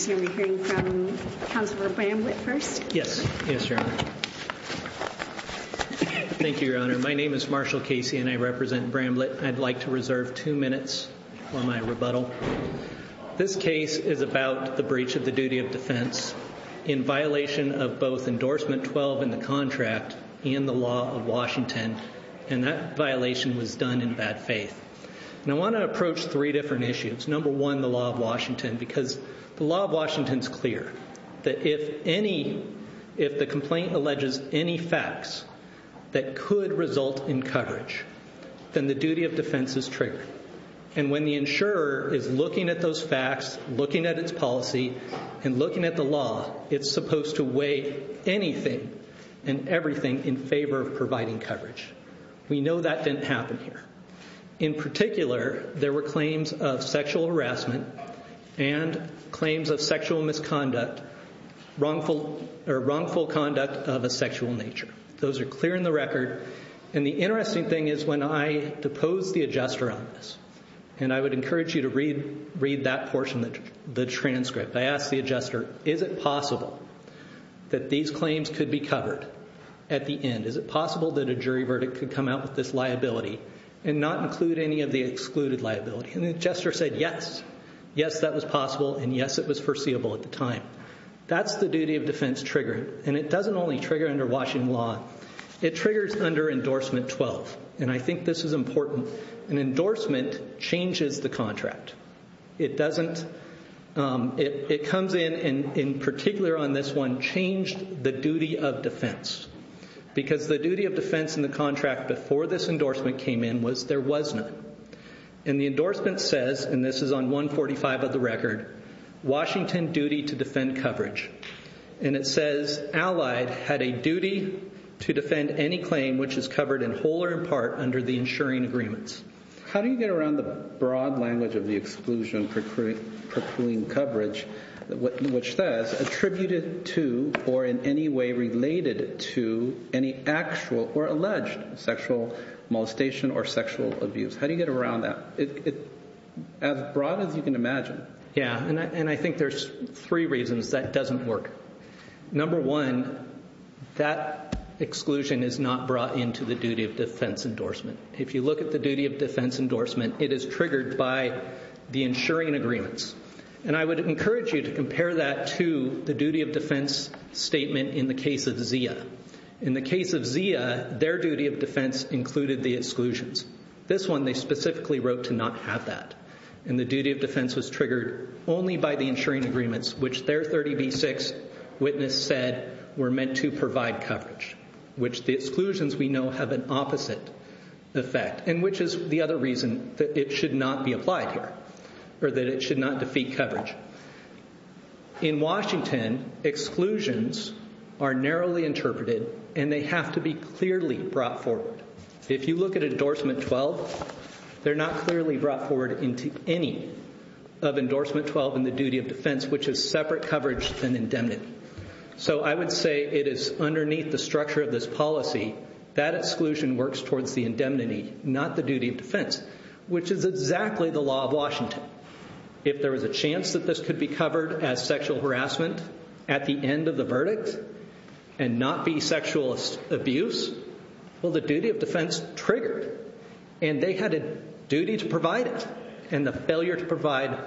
I'd like to reserve two minutes for my rebuttal. This case is about the breach of the duty of defense in violation of both endorsement 12 in the contract and the law of Washington and that violation was done in bad faith. I want to approach three different issues. Number one, the law of Washington, because the law of Washington is clear that if any, if the complaint alleges any facts that could result in coverage, then the duty of defense is triggered. And when the insurer is looking at those facts, looking at its policy and looking at the law, it's supposed to weigh anything and everything in favor of providing coverage. We know that didn't happen here. In particular, there were claims of sexual harassment and claims of sexual misconduct, wrongful or wrongful conduct of a sexual nature. Those are clear in the record. And the interesting thing is when I deposed the adjuster on this, and I would encourage you to read that portion of the transcript, I asked the adjuster, is it possible that these claims could be covered at the end? Is it possible that a jury verdict could come out with this liability and not include any of the excluded liability? And the adjuster said, yes. Yes, that was possible. And yes, it was foreseeable at the time. That's the duty of defense triggered. And it doesn't only trigger under Washington law. It triggers under endorsement 12. And I think this is important. An endorsement changes the contract. It comes in, and in particular on this one, changed the duty of defense. Because the duty of defense in the contract before this endorsement came in was there was none. And the endorsement says, and this is on 145 of the record, Washington duty to defend coverage. And it says Allied had a duty to defend any claim which is covered in whole or in part under the insuring agreements. How do you get around the broad language of the exclusion for proclaimed coverage, which says attributed to or in any way related to any actual or alleged sexual molestation or sexual abuse? How do you get around that? As broad as you can imagine. Yeah, and I think there's three reasons that doesn't work. Number one, that exclusion is not brought into the duty of defense endorsement. If you look at the duty of defense endorsement, it is triggered by the insuring agreements. And I would encourage you to compare that to the duty of defense statement in the case of Zia. In the case of Zia, their duty of defense included the exclusions. This one, they specifically wrote to not have that. And the duty of defense was triggered only by the insuring agreements, which their 30B6 witness said were meant to provide coverage, which the exclusions we know have an opposite effect, and which is the other reason that it should not be applied here, or that it should not defeat coverage. In Washington, exclusions are narrowly interpreted and they have to be clearly brought forward. If you look at endorsement 12, they're not clearly brought forward into any of endorsement 12 in the duty of defense, which is separate coverage than indemnity. So I would say it is underneath the structure of this policy that exclusion works towards the indemnity, not the duty of defense, which is exactly the law of Washington. If there was a chance that this could be covered as sexual harassment at the end of the verdict and not be sexual abuse, well, the duty of defense triggered. And they had a duty to provide it. And the failure to provide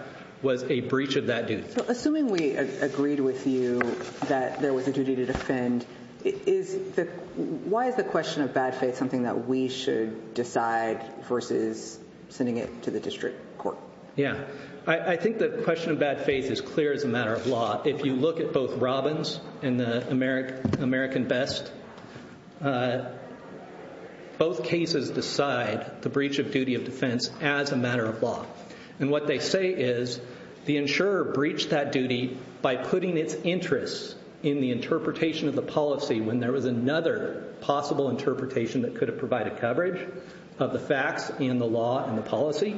was a breach of that duty. So assuming we agreed with you that there was a duty to defend, why is the question of bad faith something that we should decide versus sending it to the district court? Yeah. I think the question of bad faith is clear as a matter of law. If you look at both Robbins and the American Best, both cases decide the breach of duty of defense as a breach of that duty by putting its interests in the interpretation of the policy when there was another possible interpretation that could have provided coverage of the facts and the law and the policy,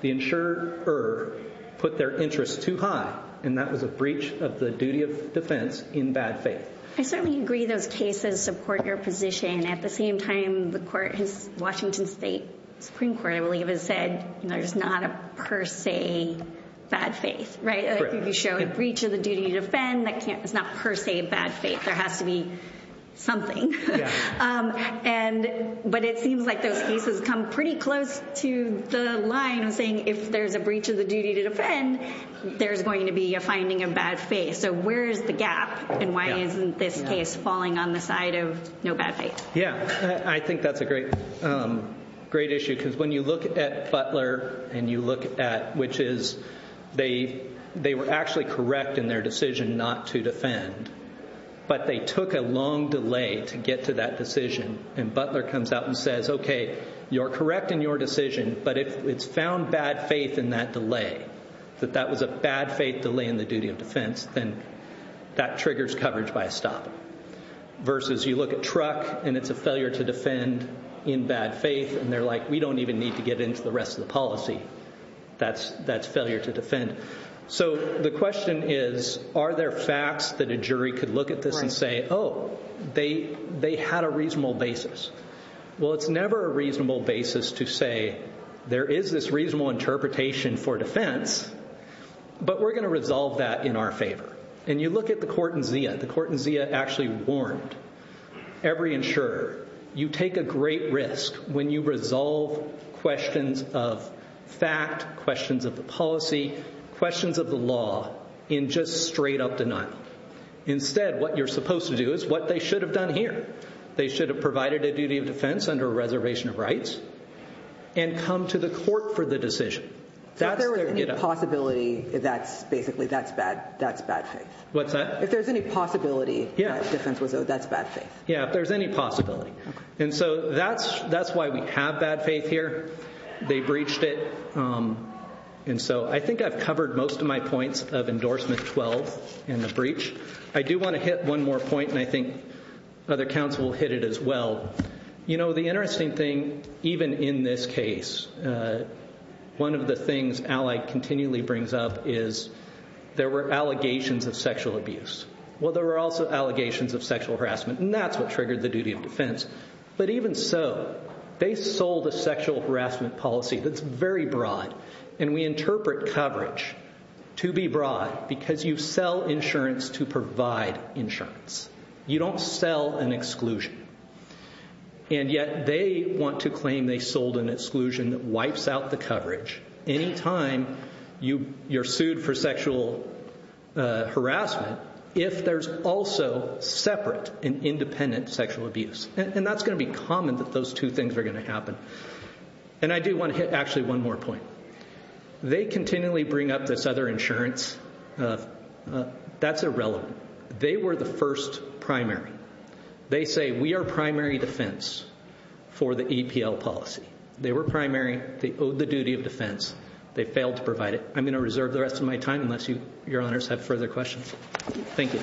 the insurer put their interests too high. And that was a breach of the duty of defense in bad faith. I certainly agree those cases support your position. At the same time, the court has Washington State Supreme Court, I believe, has said there's not a per se bad faith, right? You show a breach of the duty to defend, that's not per se bad faith. There has to be something. But it seems like those cases come pretty close to the line of saying if there's a breach of the duty to defend, there's going to be a finding of bad faith. So where's the gap? And why isn't this case falling on the side of no bad faith? Yeah. I think that's a great issue. Because when you look at Butler and you look at, which is, they were actually correct in their decision not to defend, but they took a long delay to get to that decision. And Butler comes out and says, okay, you're correct in your decision, but if it's found bad faith in that delay, that that was a bad faith delay in the duty of defense, then that triggers coverage by a stop. Versus you look at Truck and it's a failure to defend in bad faith, and they're like, we don't even need to get into the rest of the policy. That's failure to defend. So the question is, are there facts that a jury could look at this and say, oh, they had a reasonable basis? Well, it's never a reasonable basis to say there is this reasonable interpretation for defense, but we're going to resolve that in our favor. And you look at the court in Zia. The court in Zia actually warned every insurer, you take a great risk when you resolve questions of fact, questions of the policy, questions of the law in just straight up denial. Instead, what you're supposed to do is what they should have done here. They should have provided a duty of defense under a reservation of rights and come to the court for the decision. So if there was any possibility, that's basically, that's bad. That's bad. What's that? If there's any possibility, that's bad faith. Yeah, if there's any possibility. And so that's why we have bad faith here. They breached it. And so I think I've covered most of my points of endorsement 12 and the breach. I do want to hit one more point, and I think other counsel will hit it as well. You know, the interesting thing, even in this case, one of the things Allied continually brings up is there were allegations of sexual abuse. Well, there were also allegations of sexual harassment, and that's what triggered the duty of defense. But even so, they sold a sexual harassment policy that's very broad, and we interpret coverage to be broad because you sell insurance to provide insurance. You don't sell an exclusion. And yet they want to claim they sold an exclusion that wipes out the coverage. Anytime you're sued for sexual harassment, if there's also separate and independent sexual abuse. And that's going to be common that those two things are going to happen. And I do want to hit actually one more point. They continually bring up this other insurance. That's irrelevant. They were the first primary. They say we are primary defense for the EPL policy. They were primary. They owed the duty of defense. They failed to provide it. I'm going to reserve the rest of my time unless you your honors have further questions. Thank you.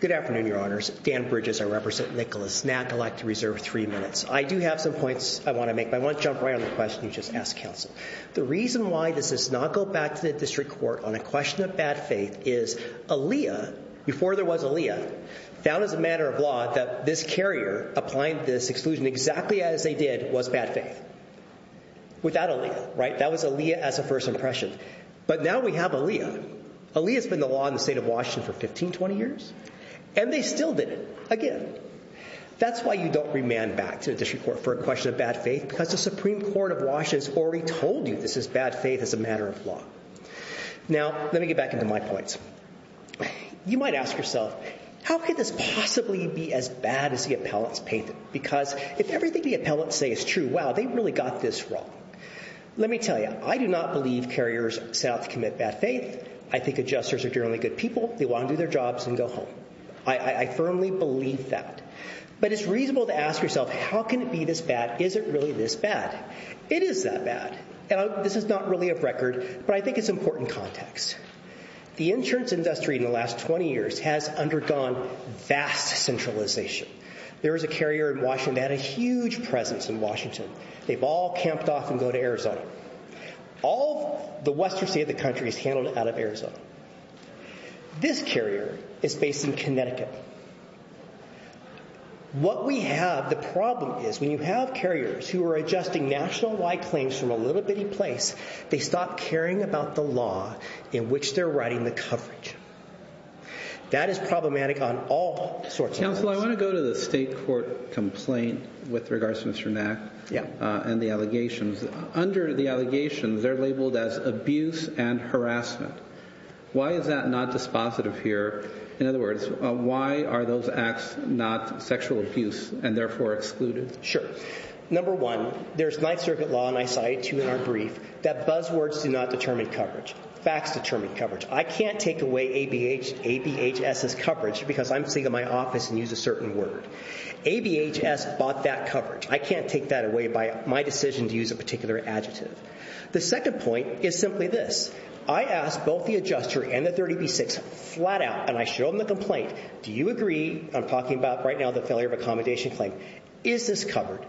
Good afternoon, your honors. Dan Bridges. I represent Nicholas snack. I'd like to reserve three minutes. I do have some points I want to make. I want go back to the district court on a question of bad faith is Aaliyah before there was Aaliyah found as a matter of law that this carrier applying this exclusion exactly as they did was bad faith. Without Aaliyah, right? That was Aaliyah as a first impression. But now we have Aaliyah. Aaliyah has been the law in the state of Washington for 15, 20 years. And they still did it again. That's why you don't remand back to the district court for a question of bad faith because the Supreme Court of Washington has already told you this is bad faith as a matter of law. Now, let me get back into my points. You might ask yourself, how could this possibly be as bad as the appellants painted? Because if everything the appellants say is true, wow, they really got this wrong. Let me tell you, I do not believe carriers set out to commit bad faith. I think adjusters are generally good people. They want to do their jobs and go home. I firmly believe that. But it's reasonable to ask yourself, how can it be this bad? Is it really this bad? It is that bad. This is not really a record, but I think it's important context. The insurance industry in the last 20 years has undergone vast centralization. There was a carrier in Washington that had a huge presence in Washington. They've all camped off and go to Arizona. All the western state of the country is handled out of Arizona. This carrier is based in Connecticut. What we have, the problem is, when you have carriers who are adjusting national wide claims from a little bitty place, they stop caring about the law in which they're writing the coverage. That is problematic on all sorts of levels. Counsel, I want to go to the state court complaint with regards to Mr. Nack and the allegations. Under the allegations, they're labeled as abuse and harassment. Why is that not dispositive here? In other words, why are those acts not sexual abuse and therefore excluded? Sure. Number one, there's Ninth Circuit law, and I cited two in our brief, that buzzwords do not determine coverage. Facts determine coverage. I can't take away ABHS's coverage because I'm sitting in my office and use a certain word. ABHS bought that coverage. I can't take that away by my decision to use a particular adjective. The second point is this. I asked both the adjuster and the 30B6 flat out, and I showed them the complaint. Do you agree? I'm talking about right now the failure of accommodation claim. Is this covered?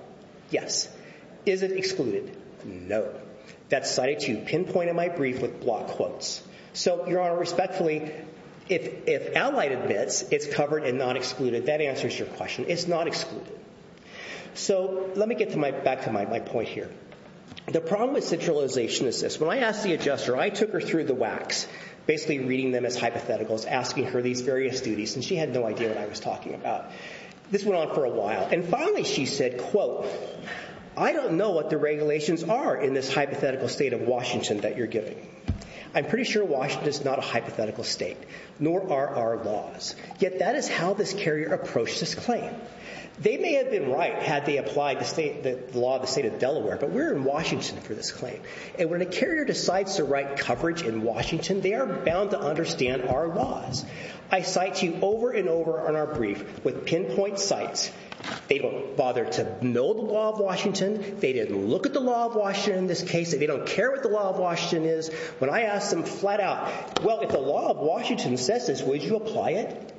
Yes. Is it excluded? No. That's cited to pinpoint in my brief with block quotes. Your Honor, respectfully, if Allied admits it's covered and not excluded, that answers your question. It's not excluded. Let me get back to my point here. The problem with centralization is this. When I asked the adjuster, I took her through the wax, basically reading them as hypotheticals, asking her these various duties. And she had no idea what I was talking about. This went on for a while. And finally, she said, quote, I don't know what the regulations are in this hypothetical state of Washington that you're giving. I'm pretty sure Washington is not a hypothetical state, nor are our laws. Yet that is how this carrier approached this claim. They may have been right had they applied the law of the state of Delaware, but we're in Washington for this claim. And when a carrier decides to write coverage in Washington, they are bound to understand our laws. I cite you over and over on our brief with pinpoint sites. They don't bother to know the law of Washington. They didn't look at the law of Washington in this case. They don't care what the law of Washington is. When I asked them flat out, well, if the law of Washington says this, would you apply it?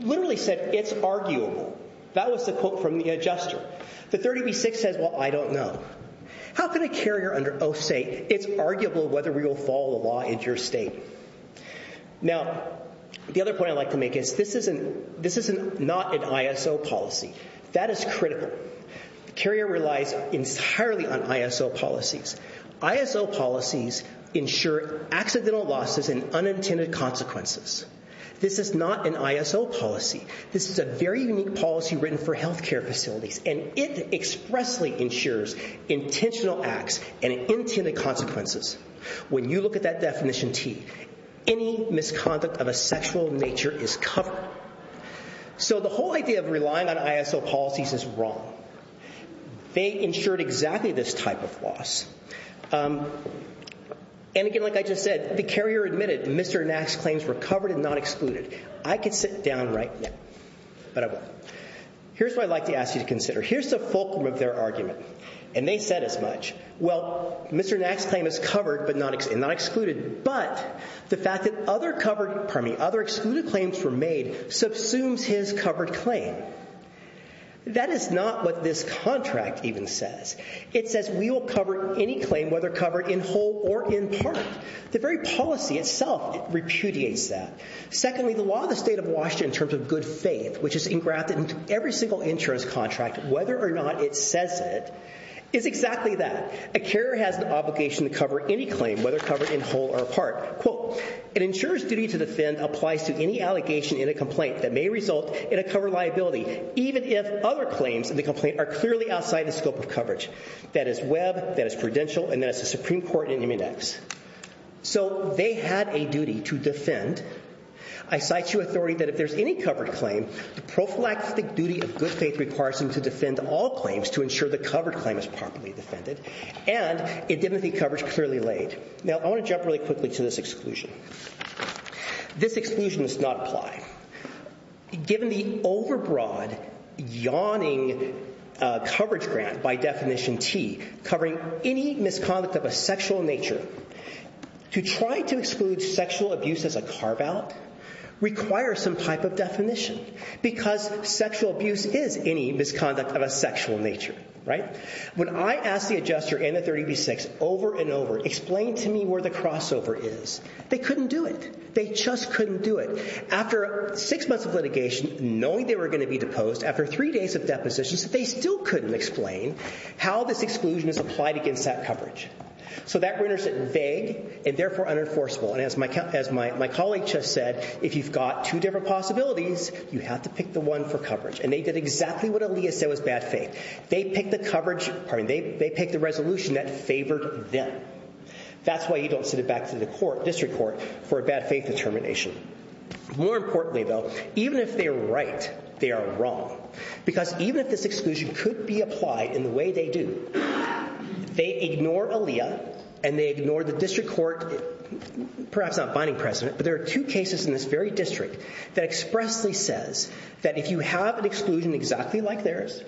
Literally said it's arguable. That was the quote from the adjuster. The 30B6 says, well, I don't know. How can a carrier under oath say it's arguable whether we will follow the law in your state? Now, the other point I'd like to make is this isn't this isn't not an ISO policy. That is critical. The carrier relies entirely on ISO policies. ISO policies ensure accidental losses and unintended consequences. This is not an ISO policy. This is a very unique policy written for health care facilities, and it expressly ensures intentional acts and intended consequences. When you look at that definition T, any misconduct of a sexual nature is covered. So the whole idea of relying on ISO policies is wrong. They ensured exactly this type of loss. And again, like I just said, the carrier admitted Mr. Nax claims were covered and not excluded. I could sit down right now, but I won't. Here's what I'd like to ask you to consider. Here's the fulcrum of their argument. And they said as much. Well, Mr. Nax claim is covered but not excluded. But the fact that other covered, pardon me, other excluded claims were made subsumes his covered claim. That is not what this contract even says. It says we will cover any claim whether covered in whole or in part. The very policy itself repudiates that. Secondly, the law of the state of Washington in terms of good faith, which is engrafted into every single insurance contract, whether or not it says it, is exactly that. A carrier has an obligation to cover any claim, whether covered in whole or part. Quote, an insurer's duty to defend applies to any allegation in a complaint that may result in a cover liability, even if other claims in the complaint are clearly outside the scope of coverage. That is Webb, that is credential, and that is the Supreme Court in Immunex. So they had a duty to defend. I cite you authority that if there's any covered claim, the prophylactic duty of good faith requires them to defend all claims to ensure the covered claim is properly defended. And it didn't think coverage clearly laid. Now, I want to jump really quickly to this exclusion. This exclusion does not apply. Given the overbroad, yawning coverage grant by definition T, covering any misconduct of a sexual nature, to try to exclude sexual abuse as a carve out requires some type of definition, because sexual abuse is any misconduct of a sexual nature, right? When I asked the adjuster in the 30B6 over and over, explain to me where the crossover is, they couldn't do it. They just couldn't do it. After six months of litigation, knowing they were going to be deposed, after three days of depositions, they still couldn't explain how this exclusion is applied against that coverage. So that renders it vague and therefore unenforceable. And as my colleague just said, if you've got two different possibilities, you have to pick the one for coverage. And they did exactly what Aaliyah said was bad faith. They picked the resolution that favored them. That's why you don't send it back to the court, district court, for a bad faith determination. More importantly, though, even if they are right, they are wrong. Because even if this exclusion could be applied in the way they do, they ignore Aaliyah and they ignore the district court, perhaps not binding precedent, but there are two cases in this very district that expressly says that if you have an exclusion exactly like theirs,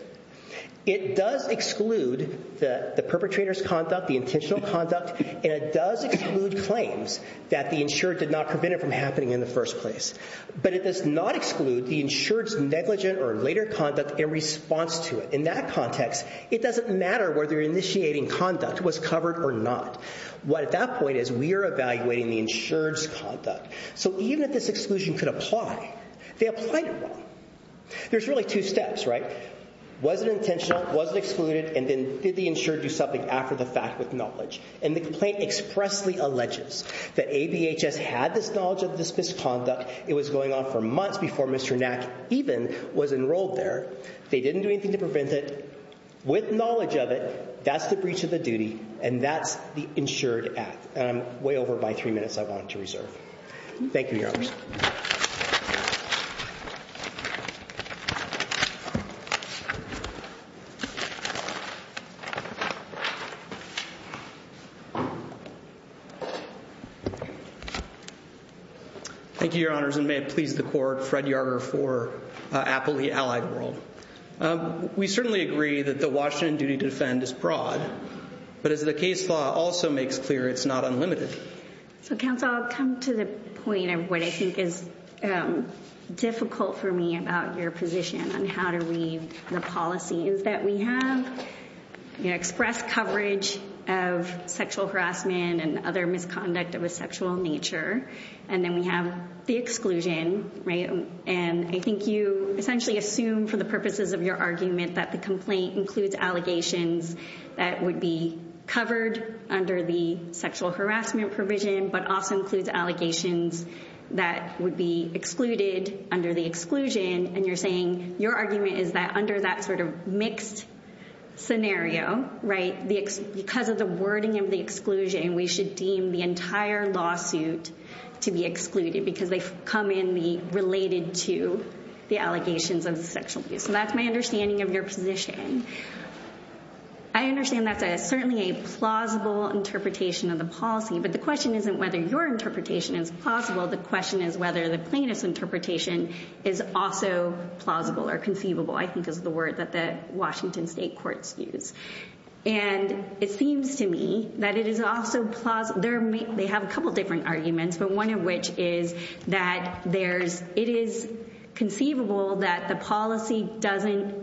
it does exclude the perpetrator's conduct, the intentional conduct, and it does exclude claims that the insured did not prevent it from happening in the first place. But it does not exclude the insured's negligent or later conduct in response to it. In that context, it doesn't matter whether initiating conduct was covered or not. What at that point is we are evaluating the insured's conduct. So even if this exclusion could apply, they applied it wrong. There's really two steps, right? Was it intentional? Was it excluded? And then did the insured do something after the fact with knowledge? And the complaint expressly alleges that ABHS had this knowledge of this misconduct. It was going on for months before Mr. Nack even was enrolled there. They didn't do anything to prevent it. With knowledge of it, that's the breach of the duty and that's the insured at. And I'm way over by three minutes I wanted to reserve. Thank you, Your Honors. Thank you, Your Honors, and may it please the Court, Fred Yarger for Appley Allied World. We certainly agree that the Washington duty to defend is broad, but as the case law also makes clear, it's not unlimited. So counsel, I'll come to the point of what I think is difficult for me about your position on how to read the policy is that we have expressed coverage of sexual harassment and other misconduct of a sexual nature, and then we have the exclusion, right? And I think you essentially assume for the purposes of your argument that the complaint includes allegations that would be covered under the sexual harassment provision, but also includes allegations that would be excluded under the exclusion. And you're saying your argument is that under that sort of mixed scenario, right, because of the wording of the exclusion, we should deem the entire lawsuit to be excluded because they come in related to the allegations of sexual abuse. So that's my understanding of your position. I understand that's certainly a plausible interpretation of the policy, but the question isn't whether your interpretation is plausible. The question is whether the plaintiff's interpretation is also plausible or conceivable, I think is the word that the Washington State courts use. And it seems to me that it is also plausible. They have a couple of different arguments, but one of which is that it is conceivable that the policy doesn't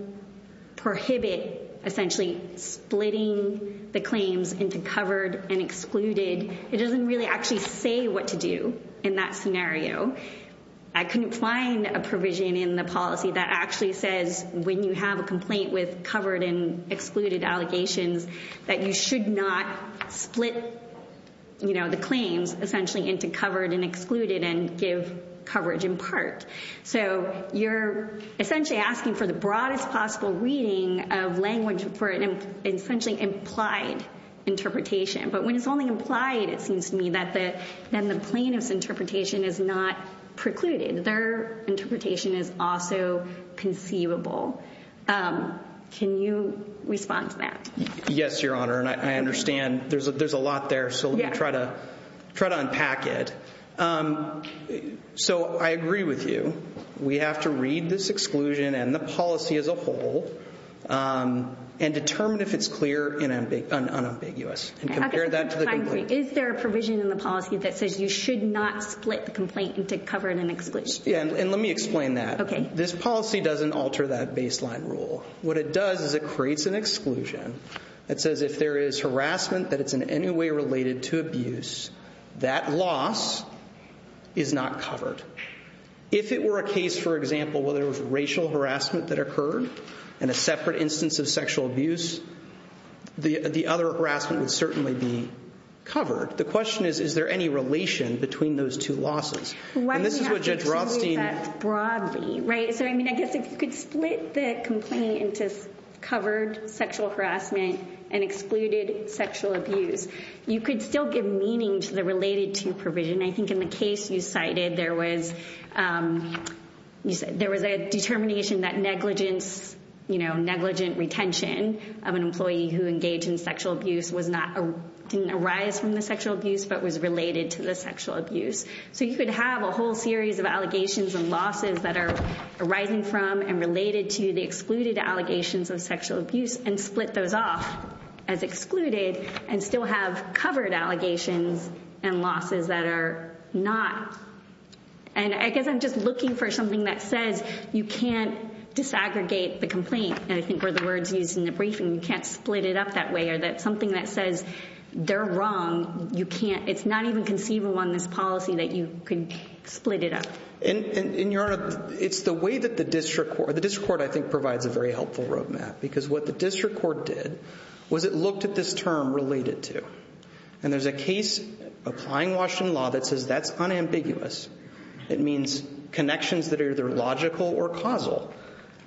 prohibit essentially splitting the claims into covered and excluded. It doesn't really actually say what to do in that scenario. I couldn't find a provision in the policy that actually says when you have a complaint with covered and excluded allegations that you should not split the claims essentially into covered and excluded and give coverage in part. So you're essentially asking for the broadest possible reading of language for an essentially implied interpretation. But when it's only implied, it seems to me that then the plaintiff's interpretation is not precluded. Their interpretation is also conceivable. Can you respond to that? Yes, Your Honor. And I understand there's a lot there, so let me try to unpack it. So I agree with you. We have to read this exclusion and the policy as a whole and determine if it's clear and unambiguous and compare that to the complaint. Is there a provision in the policy that says you should not split the complaint into covered and excluded? Yeah, and let me explain that. This policy doesn't alter that baseline rule. What it does is it creates an exclusion that says if there is harassment that it's in any way related to abuse, that loss is not covered. If it were a case, for example, where there was racial harassment that occurred in a separate instance of sexual abuse, the other harassment would certainly be covered. The question is, is there any relation between those two losses? Why do you have to exclude that broadly? I guess if you could split the complaint into covered sexual harassment and excluded sexual abuse, you could still give meaning to the related to provision. I think in the case you cited, there was a determination that negligent retention of an employee who engaged in sexual abuse didn't arise from the sexual abuse, but was related to the sexual abuse. You could have a whole series of allegations and losses that are arising from and related to the excluded allegations of sexual abuse and split those off as excluded and still have covered allegations and losses that are not. I guess I'm just looking for something that says you can't disaggregate the complaint. I think where the words used in the it's not even conceivable on this policy that you can split it up. In your honor, it's the way that the district or the district court I think provides a very helpful roadmap. Because what the district court did was it looked at this term related to. And there's a case applying Washington law that says that's unambiguous. It means connections that are either logical or causal.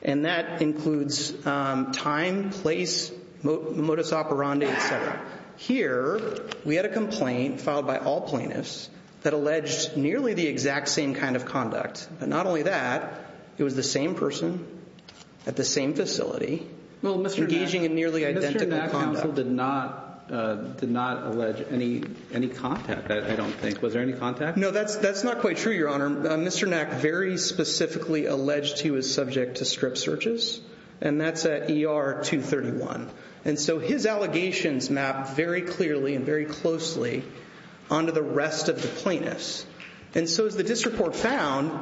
And that includes time, place, modus operandi, et cetera. Here, we had a complaint filed by all plaintiffs that alleged nearly the exact same kind of conduct. Not only that, it was the same person at the same facility engaging in nearly identical conduct. Mr. Knack counsel did not allege any contact, I don't think. Was there any contact? No, that's not quite true, your honor. Mr. Knack very specifically alleged he was subject to strip And so his allegations map very clearly and very closely onto the rest of the plaintiffs. And so as the district court found,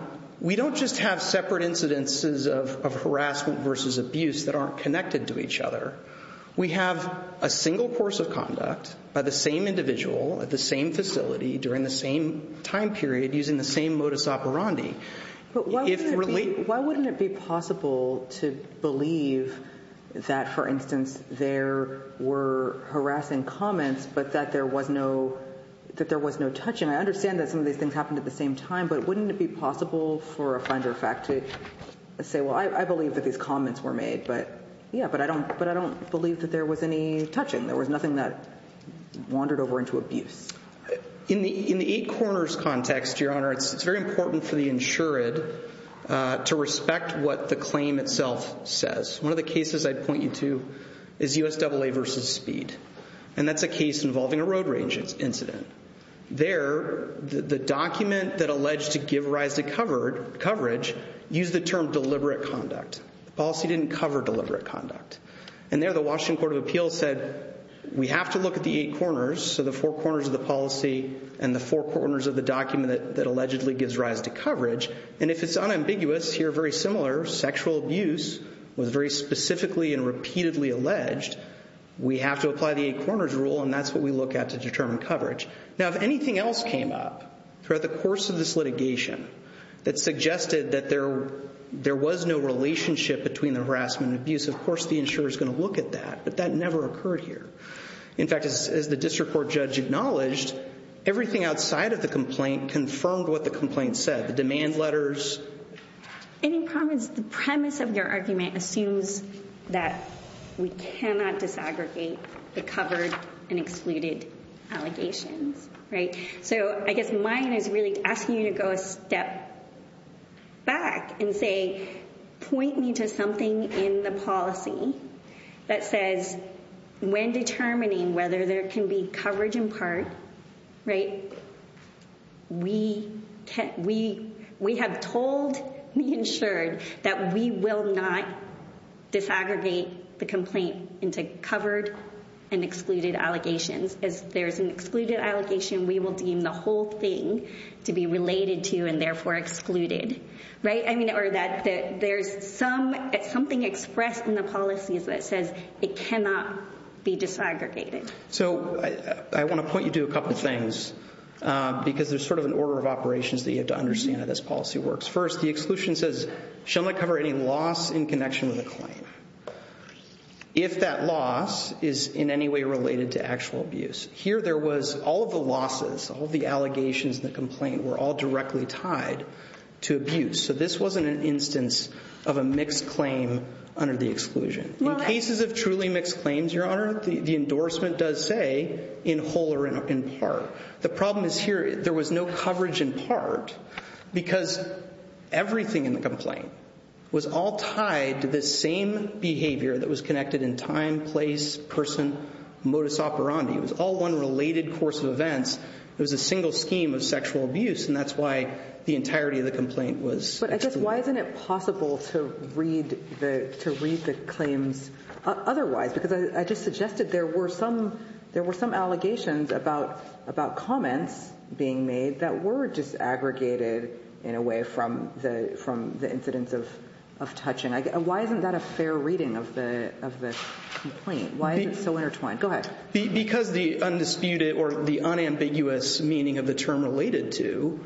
we don't just have separate incidences of harassment versus abuse that aren't connected to each other. We have a single course of conduct by the same individual at the same facility during the same time period using the same modus operandi. But why wouldn't it be possible to believe that, for instance, there were harassing comments, but that there was no touching? I understand that some of these things happened at the same time, but wouldn't it be possible for a finder of fact to say, well, I believe that these comments were made, but yeah, but I don't believe that there was any touching. There was nothing that wandered over into abuse. In the eight corners context, your honor, it's very important for the jury to respect what the claim itself says. One of the cases I'd point you to is U.S. AA versus speed. And that's a case involving a road range incident. There, the document that alleged to give rise to coverage used the term deliberate conduct. The policy didn't cover deliberate conduct. And there the Washington court of appeals said, we have to look at the eight corners. So the four corners of the policy and the four corners of the document that allegedly gives rise to coverage. And if it's unambiguous here, very similar sexual abuse was very specifically and repeatedly alleged. We have to apply the eight corners rule. And that's what we look at to determine coverage. Now, if anything else came up throughout the course of this litigation that suggested that there, there was no relationship between the harassment abuse. Of course, the insurer is going to look at that, but that never occurred here. In fact, as the district court judge acknowledged everything outside of the complaint confirmed what the complaint said, the demand letters. And in promise, the premise of your argument assumes that we cannot disaggregate the covered and excluded allegations, right? So I guess mine is really asking you to go a step back and say, point me to something in the policy that says when determining whether there can be coverage in part, right? We have told the insured that we will not disaggregate the complaint into covered and excluded allegations. As there's an excluded allegation, we will deem the whole thing to be related to and therefore excluded, right? I mean, or that there's some, something expressed in the policies that says it cannot be disaggregated. So I want to point you to a couple of things because there's sort of an order of operations that you have to understand how this policy works. First, the exclusion says, shall not cover any loss in connection with the claim. If that loss is in any way related to actual abuse. Here, there was all of the losses, all of the allegations in the complaint were all directly tied to abuse. So this wasn't an instance of a mixed claim under the exclusion. In cases of truly mixed claims, Your Honor, the endorsement does say in whole or in part. The problem is here, there was no coverage in part because everything in the complaint was all tied to the same behavior that was connected in time, place, person, modus operandi. It was all one related course of events. It was a single scheme of sexual abuse. And that's why the entirety of the complaint was excluded. But I guess, why isn't it possible to read the claims otherwise? Because I just suggested there were some allegations about comments being made that were disaggregated in a way from the incidents of touching. Why isn't that a fair reading of the complaint? Why is it so intertwined? Go ahead. Because the undisputed or the unambiguous meaning of the term related to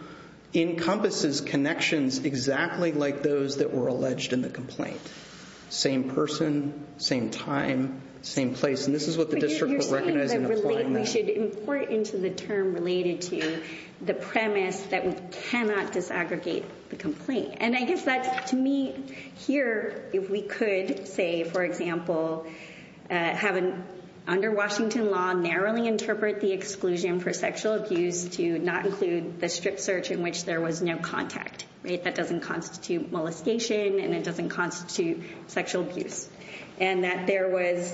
encompasses connections exactly like those that were in the complaint. Same person, same time, same place. And this is what the district was recognizing. You're saying that we should import into the term related to the premise that we cannot disaggregate the complaint. And I guess that, to me, here, if we could say, for example, under Washington law, narrowly interpret the exclusion for sexual abuse to not include the strip search in which there was no contact. That doesn't constitute molestation. And it doesn't constitute sexual abuse. And that there was,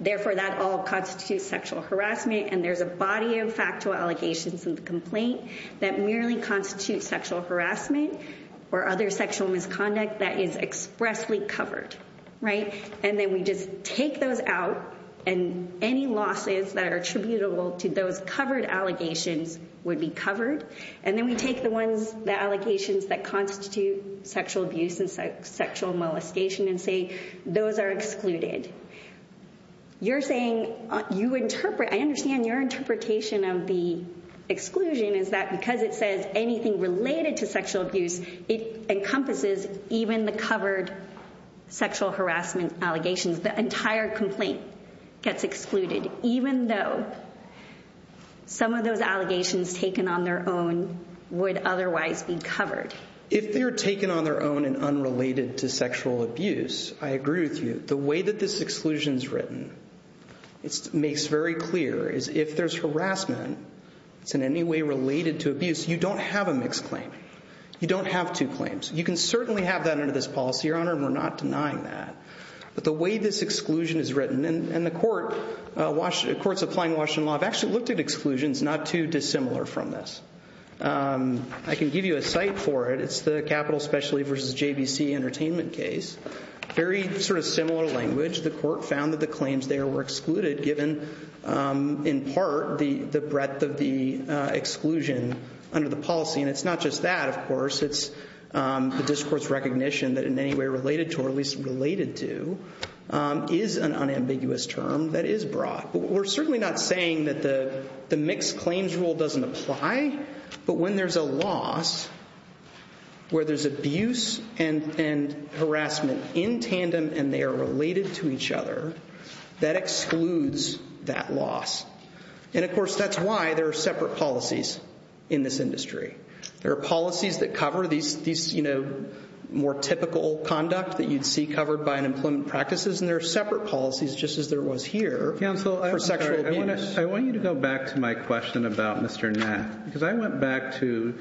therefore, that all constitutes sexual harassment. And there's a body of factual allegations in the complaint that merely constitutes sexual harassment or other sexual misconduct that is expressly covered. And then we just take those out. And any losses that are attributable to those covered allegations would be covered. And then we take the ones, the allegations that constitute sexual abuse and sexual molestation and say those are excluded. You're saying you interpret, I understand your interpretation of the exclusion is that because it says anything related to sexual abuse, it encompasses even the covered sexual harassment allegations. The entire complaint gets excluded, even though some of those allegations taken on their own would otherwise be covered. If they're taken on their own and unrelated to sexual abuse, I agree with you. The way that this exclusion is written, it makes very clear is if there's harassment, it's in any way related to abuse, you don't have a mixed claim. You don't have two claims. You can certainly have that under this policy, Your Honor, and we're not denying that. But the way this exclusion is written, and the courts applying Washington law have actually looked at exclusions not too dissimilar from this. I can give you a site for it. It's the Capital Specialty v. JBC Entertainment case. Very similar language. The court found that the claims there were excluded given, in part, the breadth of the exclusion under the policy. And it's not just that, of course. It's the discourse recognition that in any way related to is an unambiguous term that is broad. But we're certainly not saying that the mixed claims rule doesn't apply. But when there's a loss where there's abuse and harassment in tandem and they are related to each other, that excludes that loss. And of course, that's why there are separate policies in this industry. There are policies that cover these more typical conduct that you'd see covered by unemployment practices. And there are separate policies, just as there was here, for sexual abuse. I want you to go back to my question about Mr. Nack. Because I went back to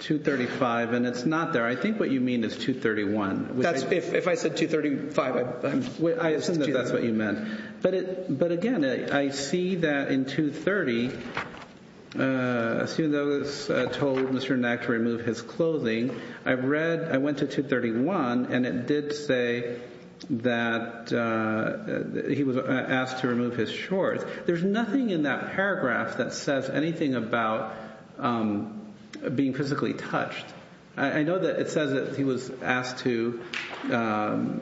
235, and it's not there. I think what you mean is 231. If I said 235, I misunderstood. I assume that's what you meant. But again, I see that in 230, as soon as I was told Mr. Nack to remove his clothing, I went to 231, and it did say that he was asked to remove his shorts. There's nothing in that paragraph that says anything about being physically touched. I know that it says that he was asked to, that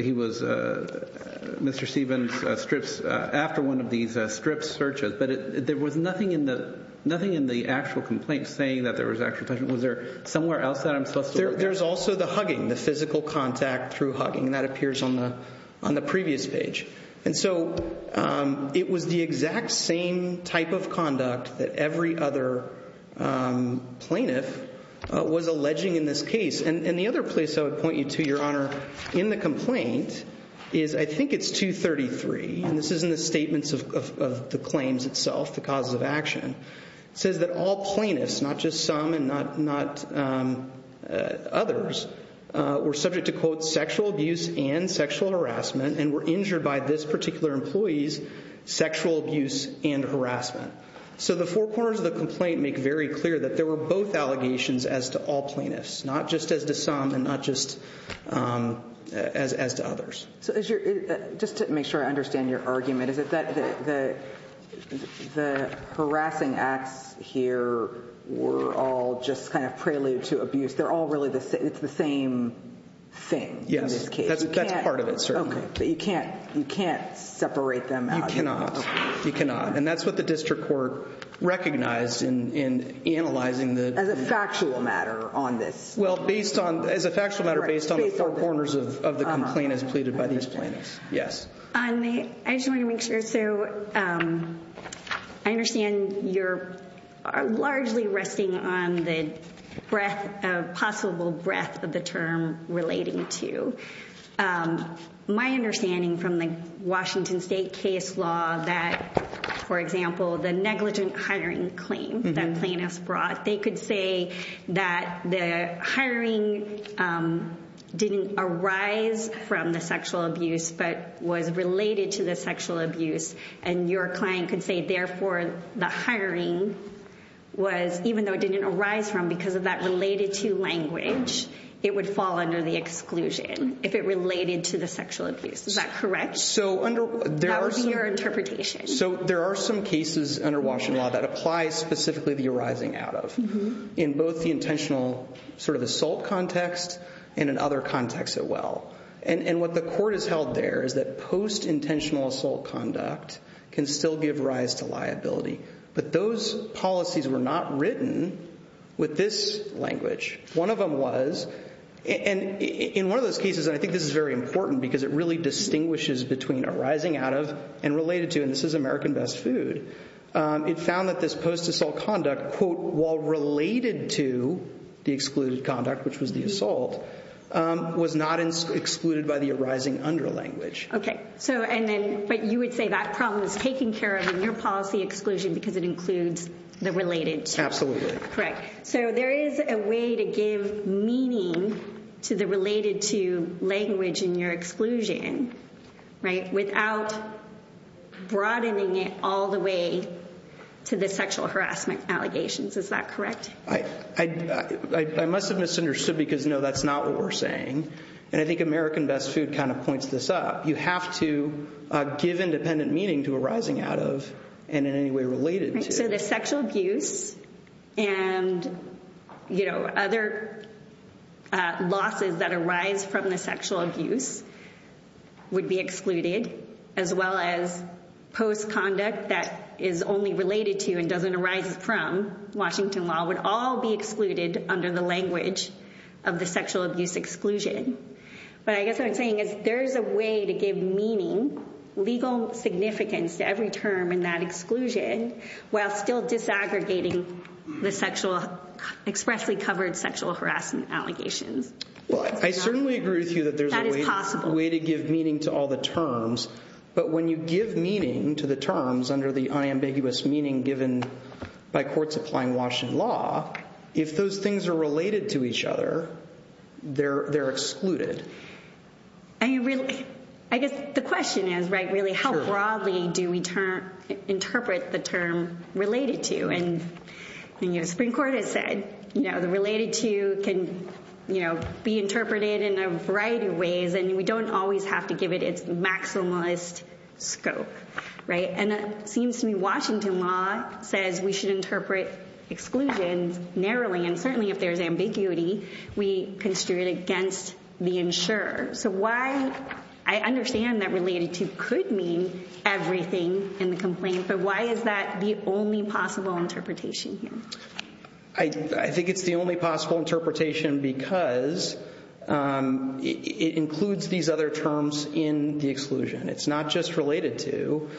he was Mr. Stevens strips after one of these strips searches. But there was nothing in the actual complaint saying that there was actual touching. Was there somewhere else that I'm supposed to look at? There's also the hugging, the physical contact through hugging. And that appears on the previous page. And so it was the exact same type of conduct that every other plaintiff was alleging in this case. And the other place I would point you to, Your Honor, in the complaint is, I think it's 233, and this is in the statements of the claims itself, the causes of action. It says that all plaintiffs, not just some and not others, were subject to, quote, sexual abuse and sexual harassment, and were injured by this particular employee's sexual abuse and harassment. So the four corners of the complaint make very clear that there were both allegations as to all plaintiffs, not just as to some and not just as to others. So just to make sure I understand your argument, is it that the harassing acts here were all just kind of prelude to abuse? They're all really the same, it's the same thing in this case. You can't separate them out. You cannot. You cannot. And that's what the district court recognized in analyzing the- As a factual matter on this. Well, as a factual matter based on the four corners of the complaint as pleaded by these plaintiffs. Yes. I just want to make sure. So I understand you're largely resting on the possible breadth of the term relating to. My understanding from the Washington State case law that, for example, the negligent hiring claim that plaintiffs brought, they could say that the hiring didn't arise from the sexual abuse, but was related to the sexual abuse. And your client could say, therefore, the hiring was, even though it didn't arise from because of that related to language, it would fall under the exclusion if it related to the sexual abuse. Is that correct? That would be your interpretation. So there are some cases under Washington law that apply specifically the arising out of, in both the intentional sort of assault context and in other contexts as well. And what the court has held there is that post intentional assault conduct can still give rise to liability. But those policies were not written with this language. One of them was, and in one of those cases, and I think this is very important because it really distinguishes between arising out of and related to, and this is American Best Food, it found that this post assault conduct, quote, while related to the excluded conduct, which was the assault, was not excluded by the arising under language. Okay. So and then, but you would say that problem is taken care of in your policy exclusion because it includes the related to. Absolutely. Correct. So there is a way to give meaning to the related to language in your exclusion, right, without broadening it all the way to the sexual harassment allegations. Is that correct? I must have misunderstood because, no, that's not what we're saying. And I think American Best Food kind of points this up. You have to give independent meaning to arising out of and in any way related to. Right. So the sexual abuse and other losses that arise from the sexual abuse would be excluded as well as post conduct that is only related to and doesn't arise from Washington law would all be excluded under the of the sexual abuse exclusion. But I guess what I'm saying is there is a way to give meaning, legal significance to every term in that exclusion while still disaggregating the expressly covered sexual harassment allegations. I certainly agree with you that there's a way to give meaning to all the terms, but when you give meaning to the terms under the unambiguous meaning by courts applying Washington law, if those things are related to each other, they're excluded. I guess the question is, really, how broadly do we interpret the term related to? And Supreme Court has said the related to can be interpreted in a variety of ways, and we don't always have to give it its maximalist scope. And it seems to me Washington law says we should interpret exclusions narrowly, and certainly if there's ambiguity, we construe it against the insurer. So I understand that related to could mean everything in the complaint, but why is that the only possible interpretation here? I think it's the only possible interpretation because it includes these other terms in the exclusion. It's not just related to,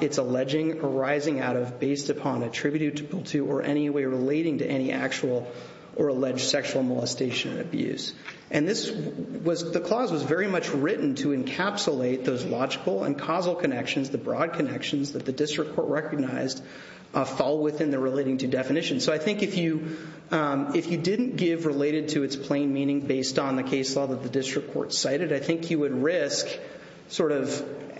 it's alleging, arising out of, based upon, attributable to, or any way relating to any actual or alleged sexual molestation abuse. And the clause was very much written to encapsulate those logical and causal connections, the broad connections that the district court recognized fall within the relating to definition. So I think if you didn't give related to its plain meaning based on the case law that the district court cited, I think you would risk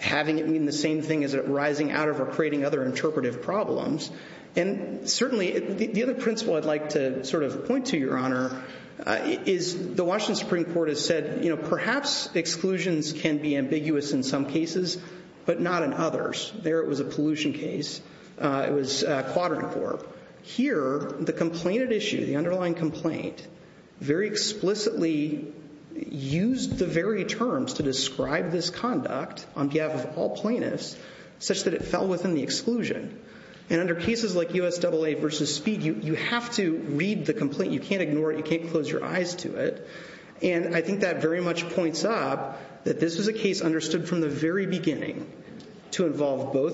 having it mean the same thing as arising out of or creating other interpretive problems. And certainly the other principle I'd like to point to, Your Honor, is the Washington Supreme Court has said perhaps exclusions can be ambiguous in some cases, but not in others. There it was a pollution case. It was a quadrant court. Here, the complainant issue, the underlying complaint, very explicitly used the very terms to describe this conduct on behalf of all plaintiffs such that it fell within the exclusion. And under cases like USAA versus Speed, you have to read the complaint. You can't ignore it. You can't close your eyes to it. And I think that very much points up that this is a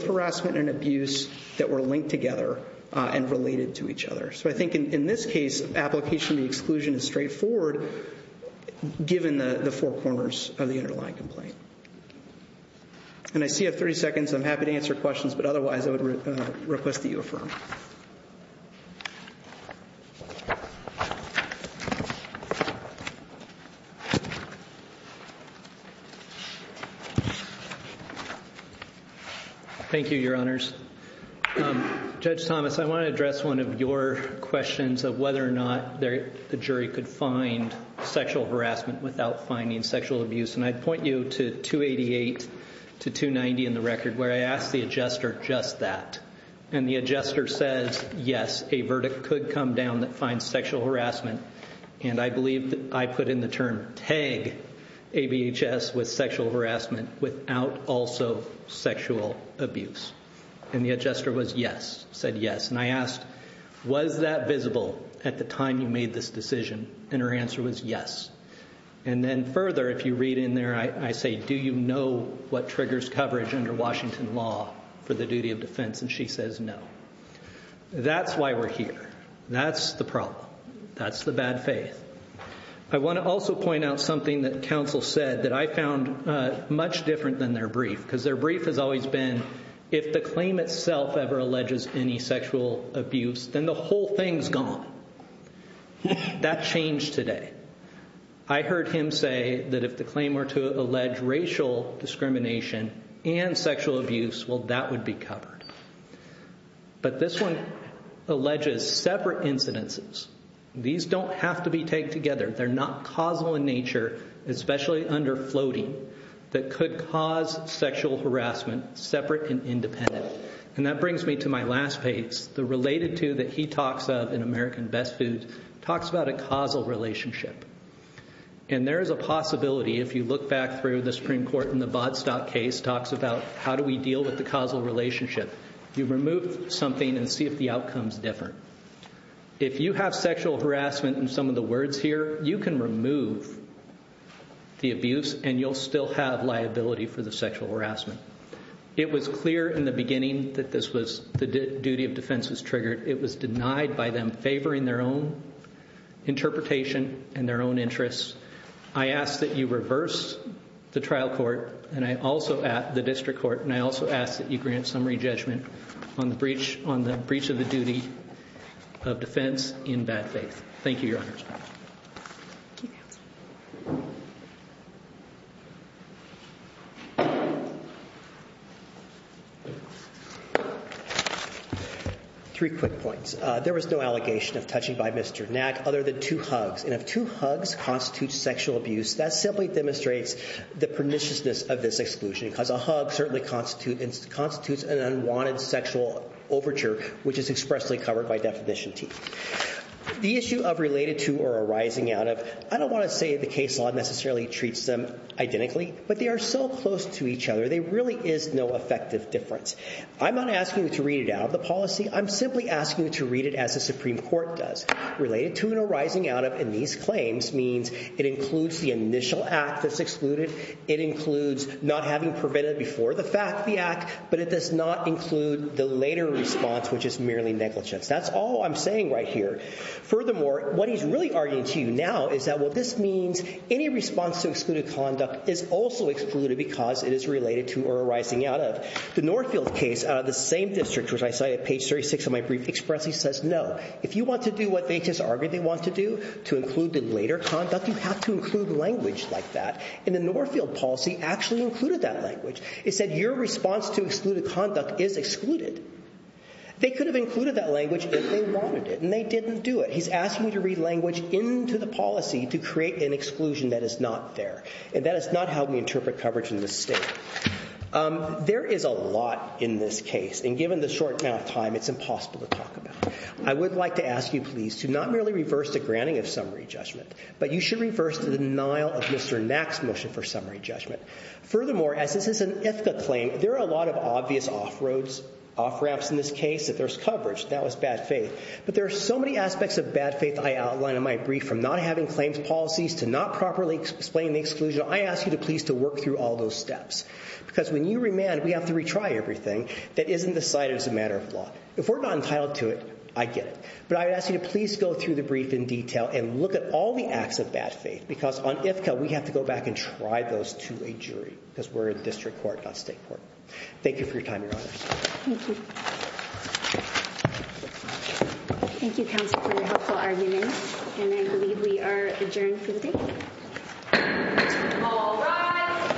harassment and abuse that were linked together and related to each other. So I think in this case, application of the exclusion is straightforward given the four corners of the underlying complaint. And I see I have 30 seconds. I'm happy to answer questions, but otherwise I would request that you your honors. Judge Thomas, I want to address one of your questions of whether or not the jury could find sexual harassment without finding sexual abuse. And I'd point you to 288 to 290 in the record where I asked the adjuster just that. And the adjuster says, yes, a verdict could come down that finds sexual harassment. And I believe that I put in the term tag ABHS with sexual harassment without also sexual abuse. And the adjuster was yes, said yes. And I asked, was that visible at the time you made this decision? And her answer was yes. And then further, if you read in there, I say, do you know what triggers coverage under Washington law for the duty of defense? And she says no. That's why we're here. That's the problem. That's the bad faith. I want to also point out something that counsel said that I found much different than their brief, because their brief has always been if the claim itself ever alleges any sexual abuse, then the whole thing's gone. That changed today. I heard him say that if the claim were to allege racial discrimination and sexual abuse, well, that would be covered. But this one alleges separate incidences. These don't have to be tagged together. They're not causal in nature, especially under floating, that could cause sexual harassment separate and independent. And that brings me to my last page, the related to that he talks of in American Best Foods, talks about a causal relationship. And there is a possibility, if you look back through the Supreme Court in the Bodstock case, talks about how do we deal with the causal relationship. You remove something and see the outcomes different. If you have sexual harassment in some of the words here, you can remove the abuse and you'll still have liability for the sexual harassment. It was clear in the beginning that this was the duty of defense was triggered. It was denied by them favoring their own interpretation and their own interests. I ask that you reverse the trial court and I also the district court. And I also ask that you grant summary judgment on the breach of the duty of defense in bad faith. Thank you, your honor. Three quick points. There was no allegation of touching by Mr. Knack other than two hugs. And if two hugs constitute sexual abuse, that simply demonstrates the perniciousness of this exclusion because a hug certainly constitutes an unwanted sexual overture, which is expressly covered by Definition T. The issue of related to or arising out of, I don't want to say the case law necessarily treats them identically, but they are so close to each other there really is no effective difference. I'm not asking you to read it out of the policy. I'm simply asking you to read it as the Supreme Court does. Related to and arising out of in these claims means it includes the initial act that's excluded. It includes not having prevented before the fact the act, but it does not include the later response, which is merely negligence. That's all I'm saying right here. Furthermore, what he's really arguing to you now is that what this means, any response to excluded conduct is also excluded because it is related to or arising out of. The Northfield case out of the same district, which I cited page 36 of my brief, expressly says no. If you want to do what they just argued they want to to include the later conduct, you have to include language like that, and the Northfield policy actually included that language. It said your response to excluded conduct is excluded. They could have included that language if they wanted it, and they didn't do it. He's asking me to read language into the policy to create an exclusion that is not there, and that has not helped me interpret coverage in this state. There is a lot in this case, and given the short amount of time, it's impossible to talk about. I would like to ask you please to not merely reverse the summary judgment, but you should reverse the denial of Mr. Nack's motion for summary judgment. Furthermore, as this is an IFCA claim, there are a lot of obvious off roads, off ramps in this case that there's coverage. That was bad faith, but there are so many aspects of bad faith I outlined in my brief from not having claims policies to not properly explaining the exclusion. I ask you to please to work through all those steps because when you remand, we have to retry everything that isn't decided as a matter of law. If we're not entitled to it, I get it, but I would ask you to go through the brief in detail and look at all the acts of bad faith because on IFCA, we have to go back and try those to a jury because we're in district court, not state court. Thank you for your time, Your Honor. Thank you. Thank you, counsel, for your helpful argument, and I believe we are adjourned for the day. All rise.